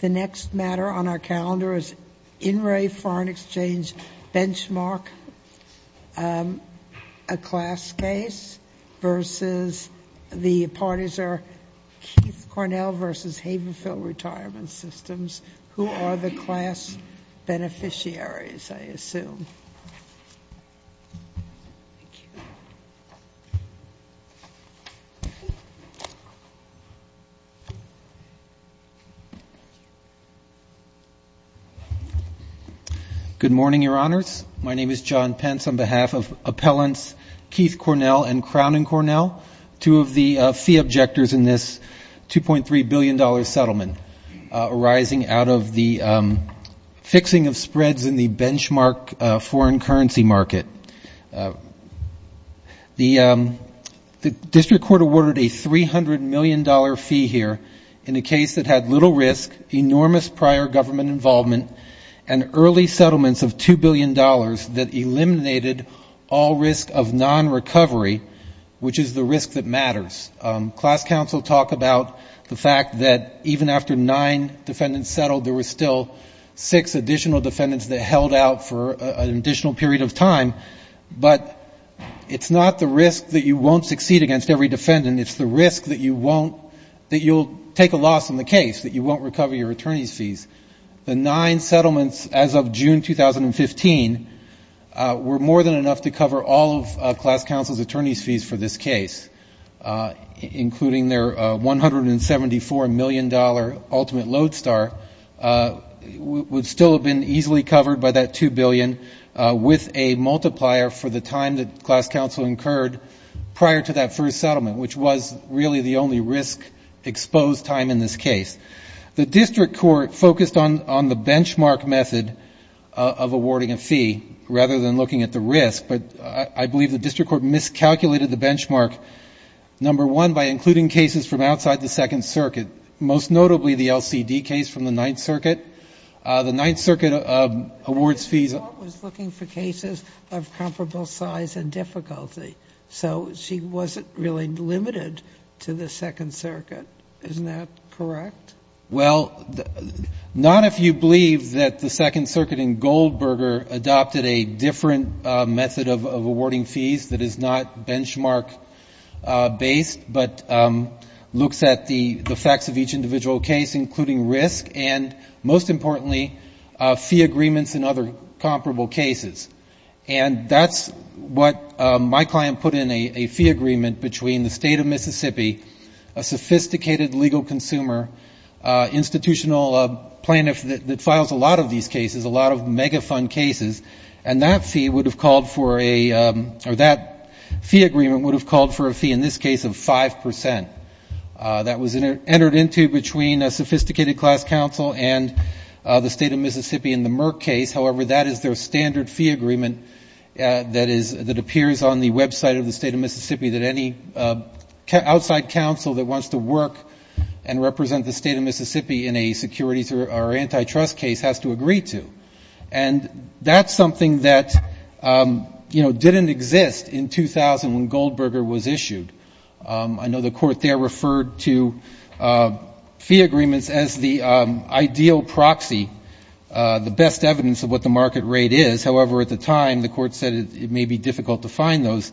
The next matter on our calendar is In Re Foreign Exchange Benchmark, a class case versus the parties are Keith Cornell versus Havenfield Retirement Systems, who are the class beneficiaries, I assume. Good morning, Your Honors. My name is John Pence on behalf of appellants Keith Cornell and Crown and Cornell, two of the fee objectors in this $2.3 billion settlement arising out of the fixing of spreads in the benchmark foreign currency market. The District Court awarded a $300 million fee here in a case that had little risk, enormous prior government involvement, and early settlements of $2 billion that eliminated all risk of non-recovery, which is the risk that matters. Class counsel talk about the fact that even after nine defendants settled, there were still six additional defendants that held out for an additional period of time. But it's not the risk that you won't succeed against every defendant. It's the risk that you'll take a loss in the case, that you won't recover your attorney's fees. The nine settlements as of June 2015 were more than enough to cover all of class counsel's attorney's fees for this case, including their $174 million ultimate load star, would still have been easily covered by that $2 billion with a multiplier for the time that class counsel incurred prior to that first settlement, which was really the only risk-exposed time in this case. The District Court focused on the benchmark method of awarding a fee rather than looking at the risk, but I believe the District Court miscalculated the benchmark, number one, by including cases from outside the Second Circuit, most notably the LCD case from the Ninth Circuit. The Ninth Circuit awards fees of — The District Court was looking for cases of comparable size and difficulty, so she wasn't really limited to the Second Circuit. Isn't that correct? Well, not if you believe that the Second Circuit in Goldberger adopted a different method of awarding fees that is not benchmark-based, but looks at the facts of each individual case, including risk and, most importantly, fee agreements in other comparable cases. And that's what my client put in a fee agreement between the State of Mississippi, a sophisticated legal consumer, institutional plaintiff that files a lot of these cases, a lot of megafund cases, and that fee would have called for a — or that fee agreement would have called for a fee, in this case, of 5 percent. That was entered into between a sophisticated class counsel and the State of Mississippi in the Merck case. However, that is their standard fee agreement that is — that appears on the website of the State of Mississippi that any outside counsel that wants to work and represent the State of Mississippi in a securities or antitrust case has to agree to. And that's something that, you know, didn't exist in 2000 when Goldberger was issued. I know the Court there referred to fee agreements as the ideal proxy, the best evidence of what the market rate is. However, at the time, the Court said it may be difficult to find those.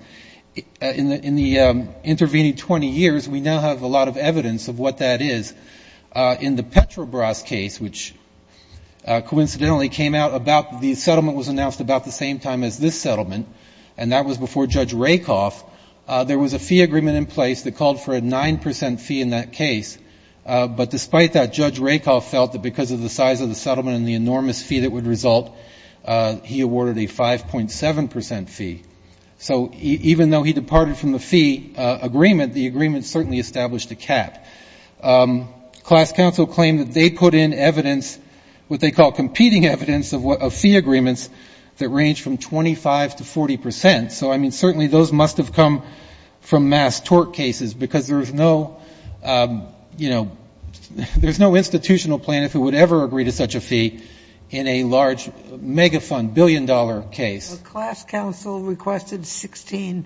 In the intervening 20 years, we now have a lot of evidence of what that is. In the Petrobras case, which coincidentally came out about — the settlement was announced about the same time as this settlement, and that was before Judge Rakoff, there was a fee agreement in place that called for a 9 percent fee in that case. But despite that, Judge Rakoff felt that because of the size of the settlement and the enormous fee that would result, he awarded a 5.7 percent fee. So even though he departed from the fee agreement, the agreement certainly established a cap. Class counsel claimed that they put in evidence, what they call competing evidence, of what — of fee agreements that range from 25 to 40 percent. So, I mean, certainly those must have come from mass tort cases, because there's no — you know, there's no institutional plan if it would ever agree to such a fee in a large mega fund, billion-dollar case. Class counsel requested 16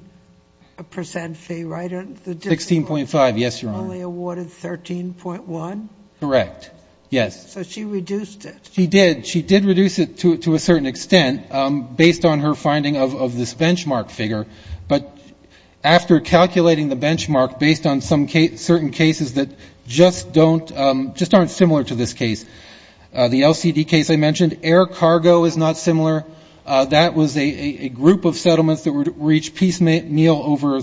percent fee, right? 16.5, yes, Your Honor. Only awarded 13.1? Correct, yes. So she reduced it? She did. She did reduce it to a certain extent, based on her finding of this benchmark figure. But after calculating the benchmark based on some certain cases that just don't — just aren't similar to this case, the LCD case I mentioned, air cargo is not similar. That was a group of settlements that would reach piecemeal over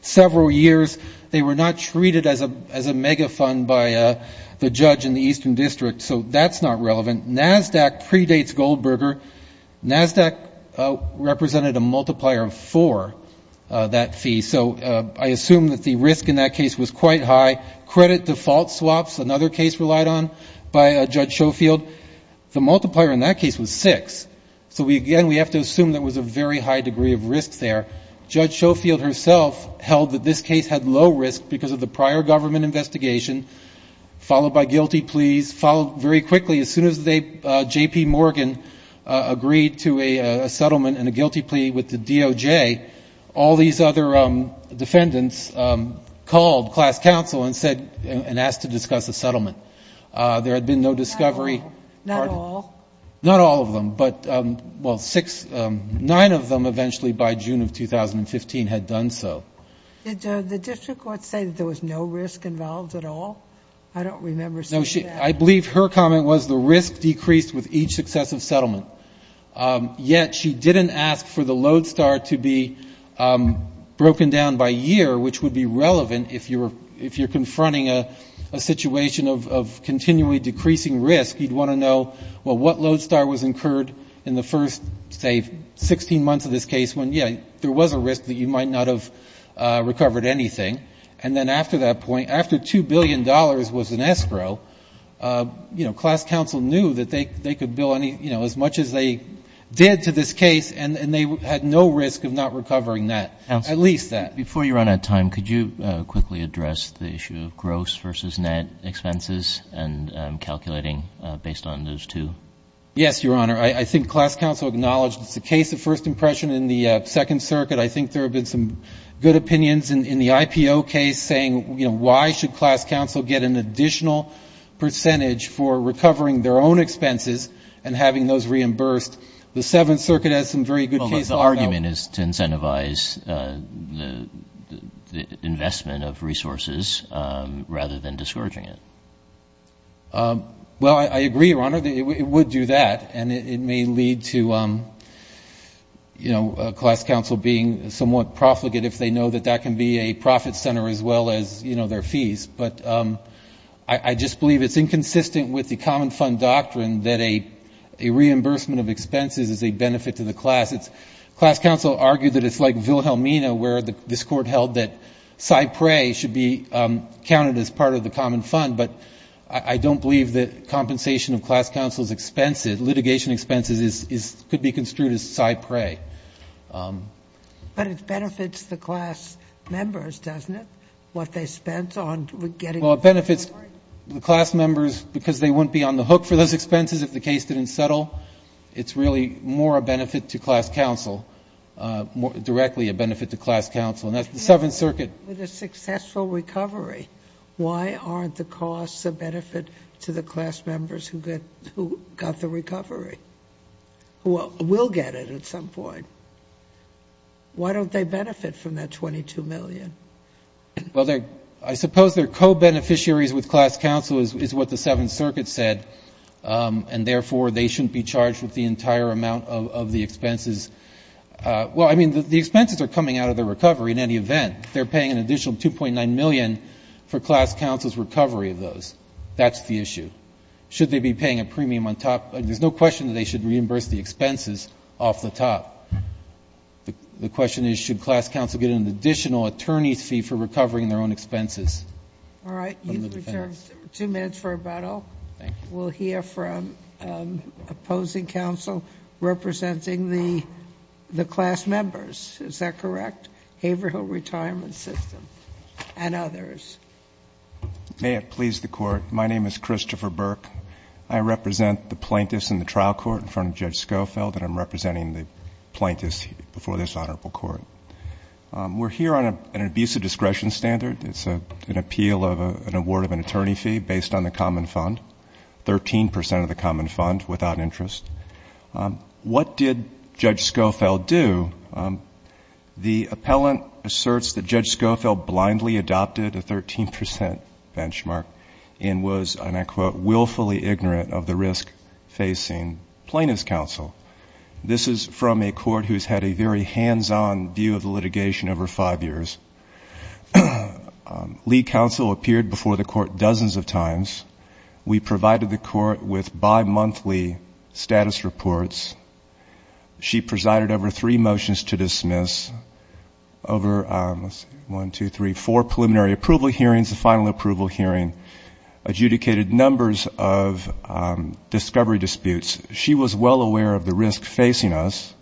several years. They were not treated as a mega fund by the judge in the Eastern District, so that's not relevant. NASDAQ predates Goldberger. NASDAQ represented a multiplier of four, that fee. So I assume that the risk in that case was quite high. Credit default swaps, another case relied on by Judge Schofield, the multiplier in that case was six. So again, we have to assume there was a very high degree of risk there. Judge Schofield herself held that this case had low risk because of the prior government investigation, followed by guilty pleas, followed very quickly. As soon as they — J.P. Morgan agreed to a settlement and a guilty plea with the DOJ, all these other defendants called class counsel and said — and asked to discuss a settlement. There had been no discovery — Not all. Not all of them, but — well, six — nine of them eventually by June of 2015 had done so. Did the district court say that there was no risk involved at all? I don't remember seeing that. I believe her comment was the risk decreased with each successive settlement. Yet she didn't ask for the Lodestar to be broken down by year, which would be relevant if you're confronting a situation of continually decreasing risk. You'd want to know, well, what Lodestar was incurred in the first, say, 16 months of this case when, yeah, there was a risk that you might not have recovered anything. And then after that point, after $2 billion was in escrow, you know, class counsel knew that they could bill, you know, as much as they did to this case, and they had no risk of not recovering that, at least that. Before you run out of time, could you quickly address the issue of gross versus net expenses and calculating based on those two? Yes, Your Honor. I think class counsel acknowledged it's a case of first impression in the Second Circuit. I think there have been some good opinions in the IPO case saying, you know, why should class counsel get an additional percentage for recovering their own expenses and having those reimbursed? The Seventh Circuit has some very good cases on that. Well, the argument is to incentivize the investment of resources rather than discouraging it. Well, I agree, Your Honor. It would do that, and it may lead to, you know, class counsel being somewhat profligate if they know that that can be a profit center as well as, you know, fees. But I just believe it's inconsistent with the common fund doctrine that a reimbursement of expenses is a benefit to the class. It's class counsel argue that it's like Vilhelmina where this Court held that Cypre should be counted as part of the common fund, but I don't believe that compensation of class counsel's expenses, litigation expenses could be construed as Cypre. But it benefits the class members, doesn't it? What they spent on getting... Well, it benefits the class members because they wouldn't be on the hook for those expenses if the case didn't settle. It's really more a benefit to class counsel, directly a benefit to class counsel, and that's the Seventh Circuit. With a successful recovery, why aren't the costs a benefit to the class members who got the recovery, who will get it at some point? Why don't they benefit from that $22 million? Well, I suppose they're co-beneficiaries with class counsel is what the Seventh Circuit said, and therefore they shouldn't be charged with the entire amount of the expenses. Well, I mean, the expenses are coming out of the recovery in any event. They're paying an additional $2.9 million for class counsel's recovery of those. That's the issue. Should they be paying a premium on top? There's no question that they should reimburse the expenses off the top. The question is, should class counsel get an additional attorney's fee for recovering their own expenses? All right. You've returned two minutes for rebuttal. Thank you. We'll hear from opposing counsel representing the class members. Is that correct? Haverhill Retirement System and others. May it please the Court. My name is Christopher Burke. I represent the plaintiffs in the trial court in front of Judge Schofield, and I'm representing the plaintiffs before this Honorable Court. We're here on an abusive discretion standard. It's an appeal of an award of an attorney fee based on the common fund, 13 percent of the common fund without interest. What did Judge Schofield do? The appellant asserts that Judge Schofield blindly adopted a 13 percent benchmark and was, and I quote, willfully ignorant of the risk facing plaintiff's counsel. This is from a court who's had a very hands-on view of the litigation over five years. Lee counsel appeared before the court dozens of times. We provided the court with bimonthly status reports. She presided over three motions to dismiss, over one, two, three, four preliminary approval hearings, the final approval hearing, adjudicated numbers of discovery disputes. She was well aware of the risk facing us,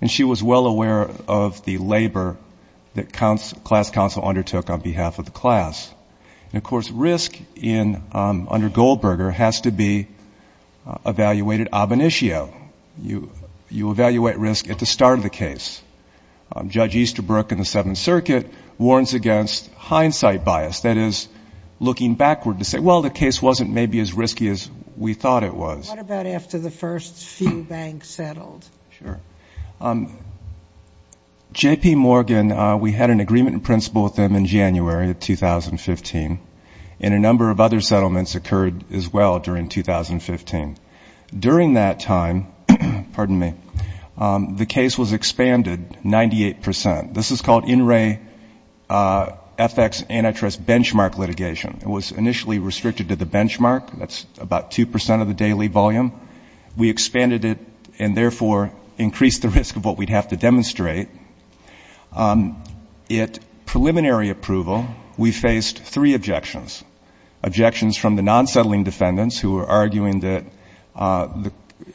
and she was well aware of the labor that class counsel undertook on behalf of the class. And of course, risk under Goldberger has to be evaluated ab initio. You evaluate risk at the start of the case. Judge Easterbrook in the Seventh Circuit warns against hindsight bias, that is, looking backward to say, well, the case wasn't maybe as risky as we thought it was. What about after the first few banks settled? Sure. J.P. Morgan, we had an agreement in principle with them in January of 2015, and a number of other settlements occurred as well during 2015. During that time, the case was expanded 98 percent. This is called In Re FX Antitrust Benchmark Litigation. It was initially restricted to the benchmark. That's about 2 percent of the daily volume. We expanded it and therefore increased the risk of what we'd have to demonstrate. At preliminary approval, we faced three objections, objections from the non-settling defendants who were arguing that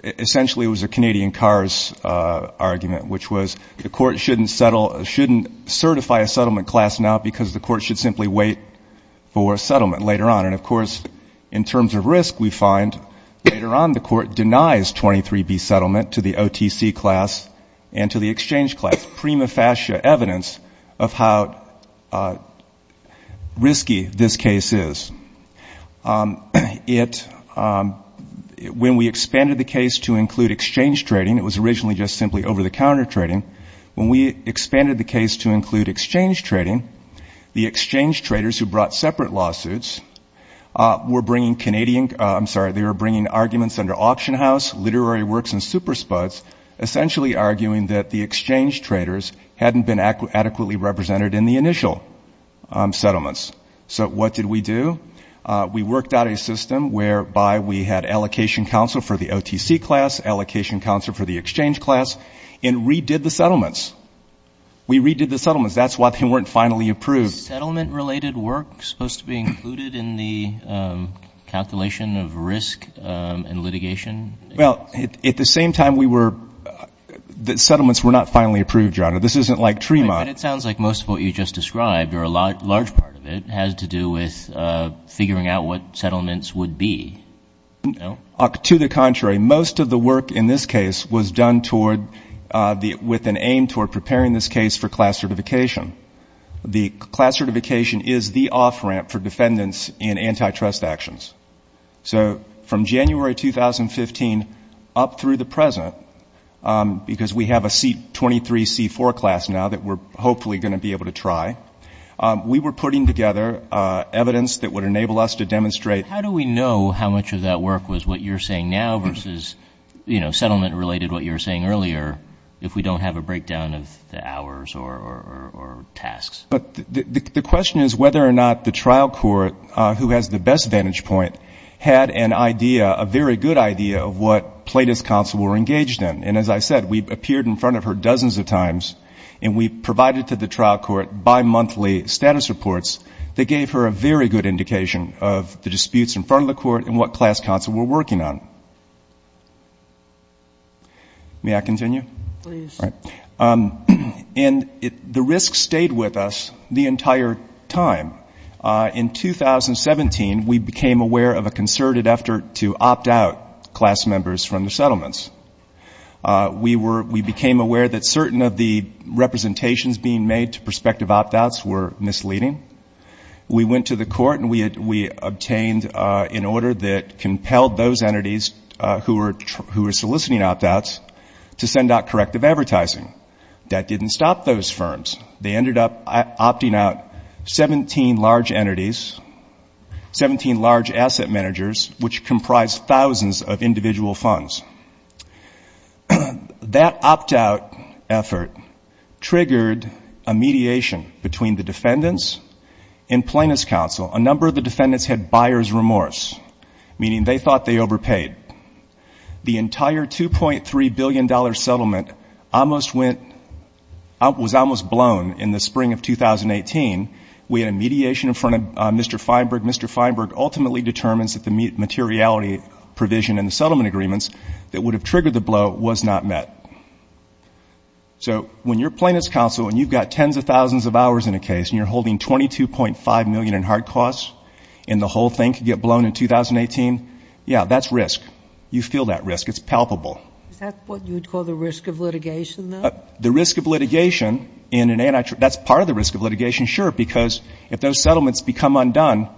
essentially it was a Canadian cars argument, which was the court shouldn't settle, shouldn't certify a settlement class now because the court should simply wait for a settlement later on. And of course, in terms of risk, we find later on the court denies 23B settlement to the OTC class and to the exchange class, prima facie evidence of how risky this case is. When we expanded the case to include exchange trading, it was originally just simply over-the-counter trading. When we expanded the case to include exchange trading, the exchange traders who brought separate lawsuits were bringing Canadian, I'm sorry, they were bringing arguments under Auction House, Literary Works and Super Spuds, essentially arguing that the exchange traders hadn't been adequately represented in the initial settlements. So what did we do? We worked out a system whereby we had allocation counsel for the OTC class, allocation counsel for the exchange class, and redid the settlements. We redid the settlements. That's why they weren't finally approved. Settlement-related work supposed to be included in the calculation of risk and litigation? Well, at the same time, we were, the settlements were not finally approved, John. This isn't like Tremont. But it sounds like most of what you just described, or a large part of it, has to do with figuring out what settlements would be, no? To the contrary. Most of the work in this case was done toward, with an aim toward preparing this case for class certification. The class certification is the off-ramp for defendants in antitrust actions. So from January 2015 up through the present, because we have a C-23, C-4 class now that we're hopefully going to be able to try, we were putting together evidence that would enable us to demonstrate How do we know how much of that work was what you're saying now versus, you know, settlement-related what you were saying earlier, if we don't have a breakdown of the hours or tasks? The question is whether or not the trial court, who has the best vantage point, had an idea, a very good idea of what plaintiffs' counsel were engaged in. And as I said, we appeared in front of her dozens of times, and we provided to the trial court bimonthly status reports that gave her a very good indication of the disputes in front of the court and what class counsel were working on. May I continue? Please. And the risk stayed with us the entire time. In 2017, we became aware of a concerted effort to opt out class members from the settlements. We became aware that certain of the representations being made to prospective opt-outs were misleading. We went to the court and we obtained, in order that compelled those entities who were soliciting opt-outs to send out corrective advertising. That didn't stop those firms. They ended up opting out 17 large entities, 17 large asset managers, which comprised thousands of individual funds. That opt-out effort triggered a mediation between the defendants and plaintiffs' counsel. A number of the defendants had buyer's remorse, meaning they thought they overpaid. The entire $2.3 billion settlement was almost blown in the spring of 2018. We had a mediation in front of Mr. Feinberg. Mr. Feinberg ultimately determines that the materiality provision in the settlement agreements that would have triggered the blow was not met. So when you're plaintiffs' counsel and you've got tens of thousands of hours in a case and you're holding $22.5 million in hard costs and the whole thing could get blown in 2018, yeah, that's risk. You feel that risk. It's palpable. Is that what you would call the risk of litigation, though? The risk of litigation in an anti-trust — that's part of the risk of litigation, sure, because if those settlements become undone,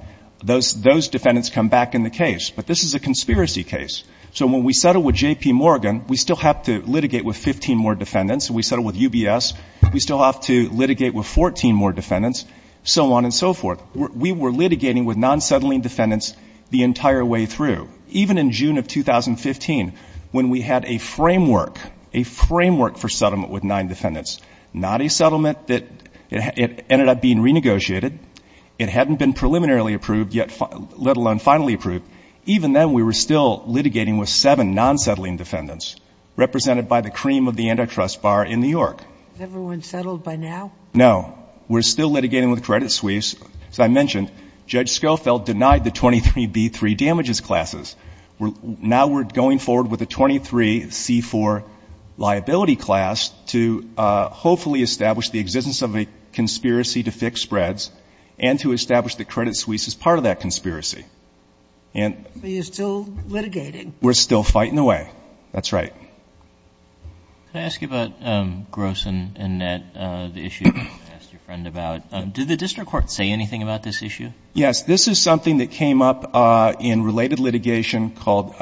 those defendants come back in the case. But this is a conspiracy case. So when we settle with J.P. Morgan, we still have to litigate with so on and so forth. We were litigating with non-settling defendants the entire way through. Even in June of 2015, when we had a framework, a framework for settlement with nine defendants, not a settlement that — it ended up being renegotiated. It hadn't been preliminarily approved yet, let alone finally approved. Even then, we were still litigating with seven non-settling defendants, represented by the cream of the anti-trust bar in New York. Has everyone settled by now? No. We're still litigating with credit suisse. As I mentioned, Judge Schofield denied the 23B3 damages classes. Now we're going forward with a 23C4 liability class to hopefully establish the existence of a conspiracy to fix spreads and to establish that credit suisse is part of that conspiracy. But you're still litigating. We're still fighting away. That's right. Can I ask you about gross and net, the issue you asked your friend about? Did the district court say anything about this issue? Yes. This is something that came up in related litigation called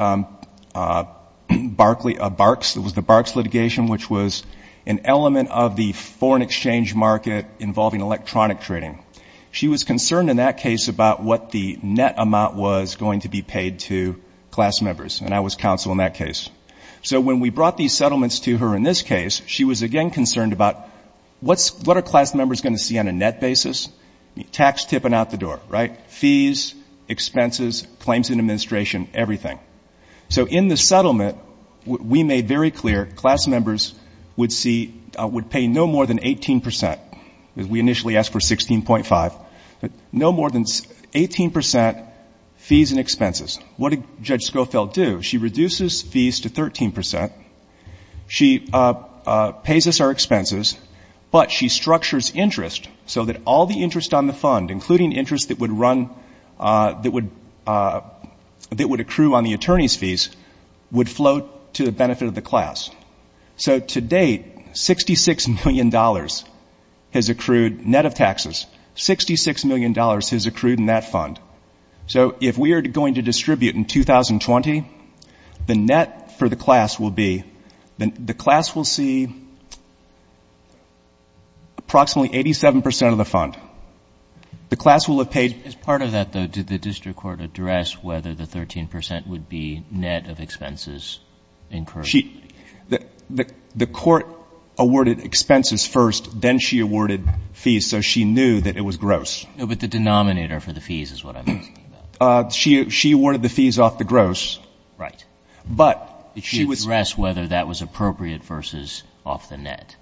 Barkley — Barks. It was the Barks litigation, which was an element of the foreign exchange market involving electronic trading. She was concerned in that case about what the net amount was going to be paid to class members, and I was counsel in that case. So when we brought these settlements to her in this case, she was again concerned about what are class members going to see on a net basis? Tax tipping out the door, right? Fees, expenses, claims in administration, everything. So in the settlement, we made very clear class members would pay no more than 18 percent. We initially asked for 16.5, but no more than 18 percent fees and expenses. What did Judge Schofield do? She reduces fees to 13 percent. She pays us our expenses, but she structures interest so that all the interest on the fund, including interest that would run — that would accrue on the attorney's fees, would float to the benefit of the class. So to date, $66 million has accrued net of taxes. $66 million has accrued in that fund. So if we are going to distribute in 2020, the net for the class will be — the class will see approximately 87 percent of the fund. The class will have paid — As part of that, though, did the district court address whether the 13 percent would be net of expenses incurred? She — the court awarded expenses first, then she awarded fees, so she knew that it was gross. No, but the denominator for the fees is what I'm asking about. She awarded the fees off the gross. Right. But she was — Did she address whether that was appropriate versus off the net?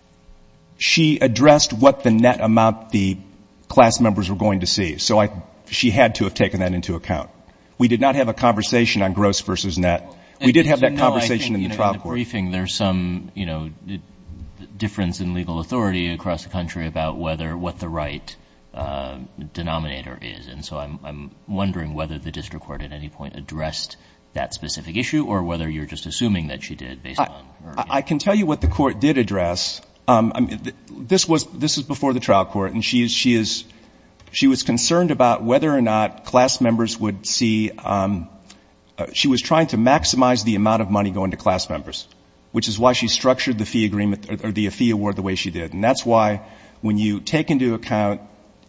She addressed what the net amount the class members were going to see, so I — she had to have taken that into account. We did not have a conversation on gross versus net. We did have that conversation in the trial court. In the briefing, there's some, you know, difference in legal authority across the country about whether — what the right denominator is, and so I'm wondering whether the district court at any point addressed that specific issue or whether you're just assuming that she did based on her opinion. I can tell you what the court did address. This was — this was before the trial court, and she is — she was concerned about whether or not class members would see — she was trying to maximize the amount of money going to class members, which is why she structured the fee agreement — or the fee award the way she did, and that's why when you take into account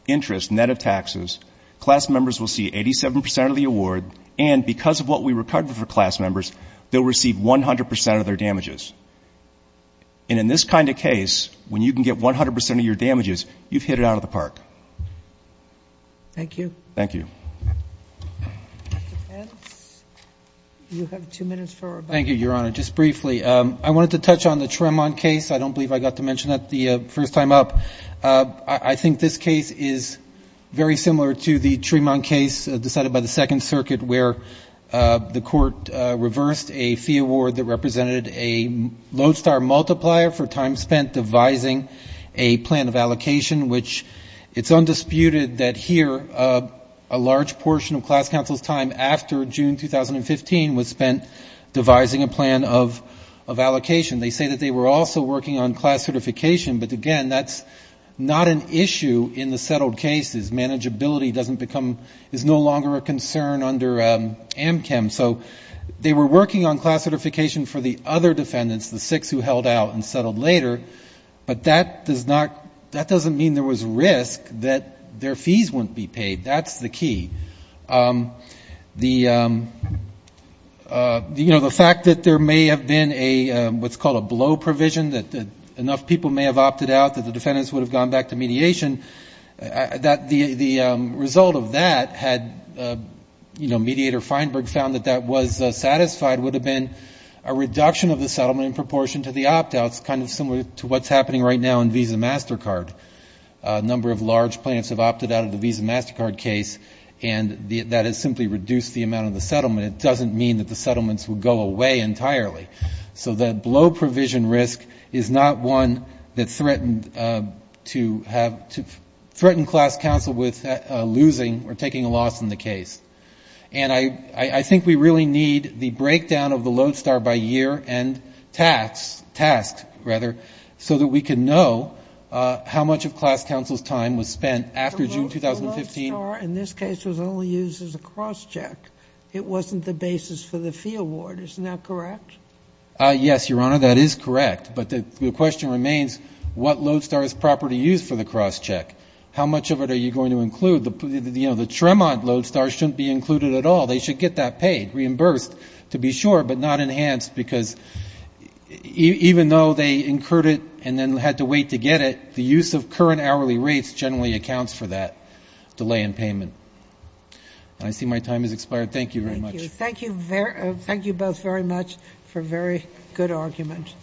interest, net of taxes, class members will see 87 percent of the award, and because of what we recorded for class members, they'll receive 100 percent of their damages. And in this kind of case, when you can get 100 percent of your damages, you've hit it out of the park. Thank you. Thank you. Mr. Pence, you have two minutes for — Thank you, Your Honor. Just briefly, I wanted to touch on the Tremont case. I don't believe I got to mention that the first time up. I think this case is very similar to the Tremont case decided by the Second Circuit, where the court reversed a fee award that represented a lodestar multiplier for time spent devising a plan of allocation, which it's undisputed that here a large portion of class counsel's time after June 2015 was spent devising a plan of allocation. They say that they were also working on class certification, but again, that's not an issue in the settled cases. Manageability doesn't become — is no longer a concern under AMCM. So they were working on class certification for the other defendants, the six who held out and settled later, but that doesn't mean there was risk that their fees wouldn't be paid. That's the key. The fact that there may have been what's called a blow provision, that enough people may have opted out, that the defendants would have gone back to mediation, the result of that, had Mediator Feinberg found that that was satisfied, would have been a reduction of the settlement in proportion to the opt-outs, kind of similar to what's happening right now in Visa MasterCard. A number of large plaintiffs have opted out of the Visa MasterCard case, and that has simply reduced the amount of the settlement. It doesn't mean that the settlements would go away entirely. So the blow provision risk is not one that threatened to have — threatened class counsel with losing or taking a loss in the case. And I think we really need the breakdown of the Lodestar by year and tasks, rather, so that we can know how much of class counsel's time was spent after June 2015. The Lodestar in this case was only used as a cross-check. It wasn't the basis for the fee award. Isn't that correct? Yes, Your Honor, that is correct. But the question remains, what Lodestar is proper to use for the cross-check? How much of it are you going to include? The Tremont Lodestar shouldn't be included at all. They should get that paid, reimbursed, to be sure, but not enhanced, because even though they incurred it and then had to wait to get it, the use of current hourly rates generally accounts for that delay in payment. I see my time has expired. Thank you very much. Thank you. Thank you both very much for a very good argument.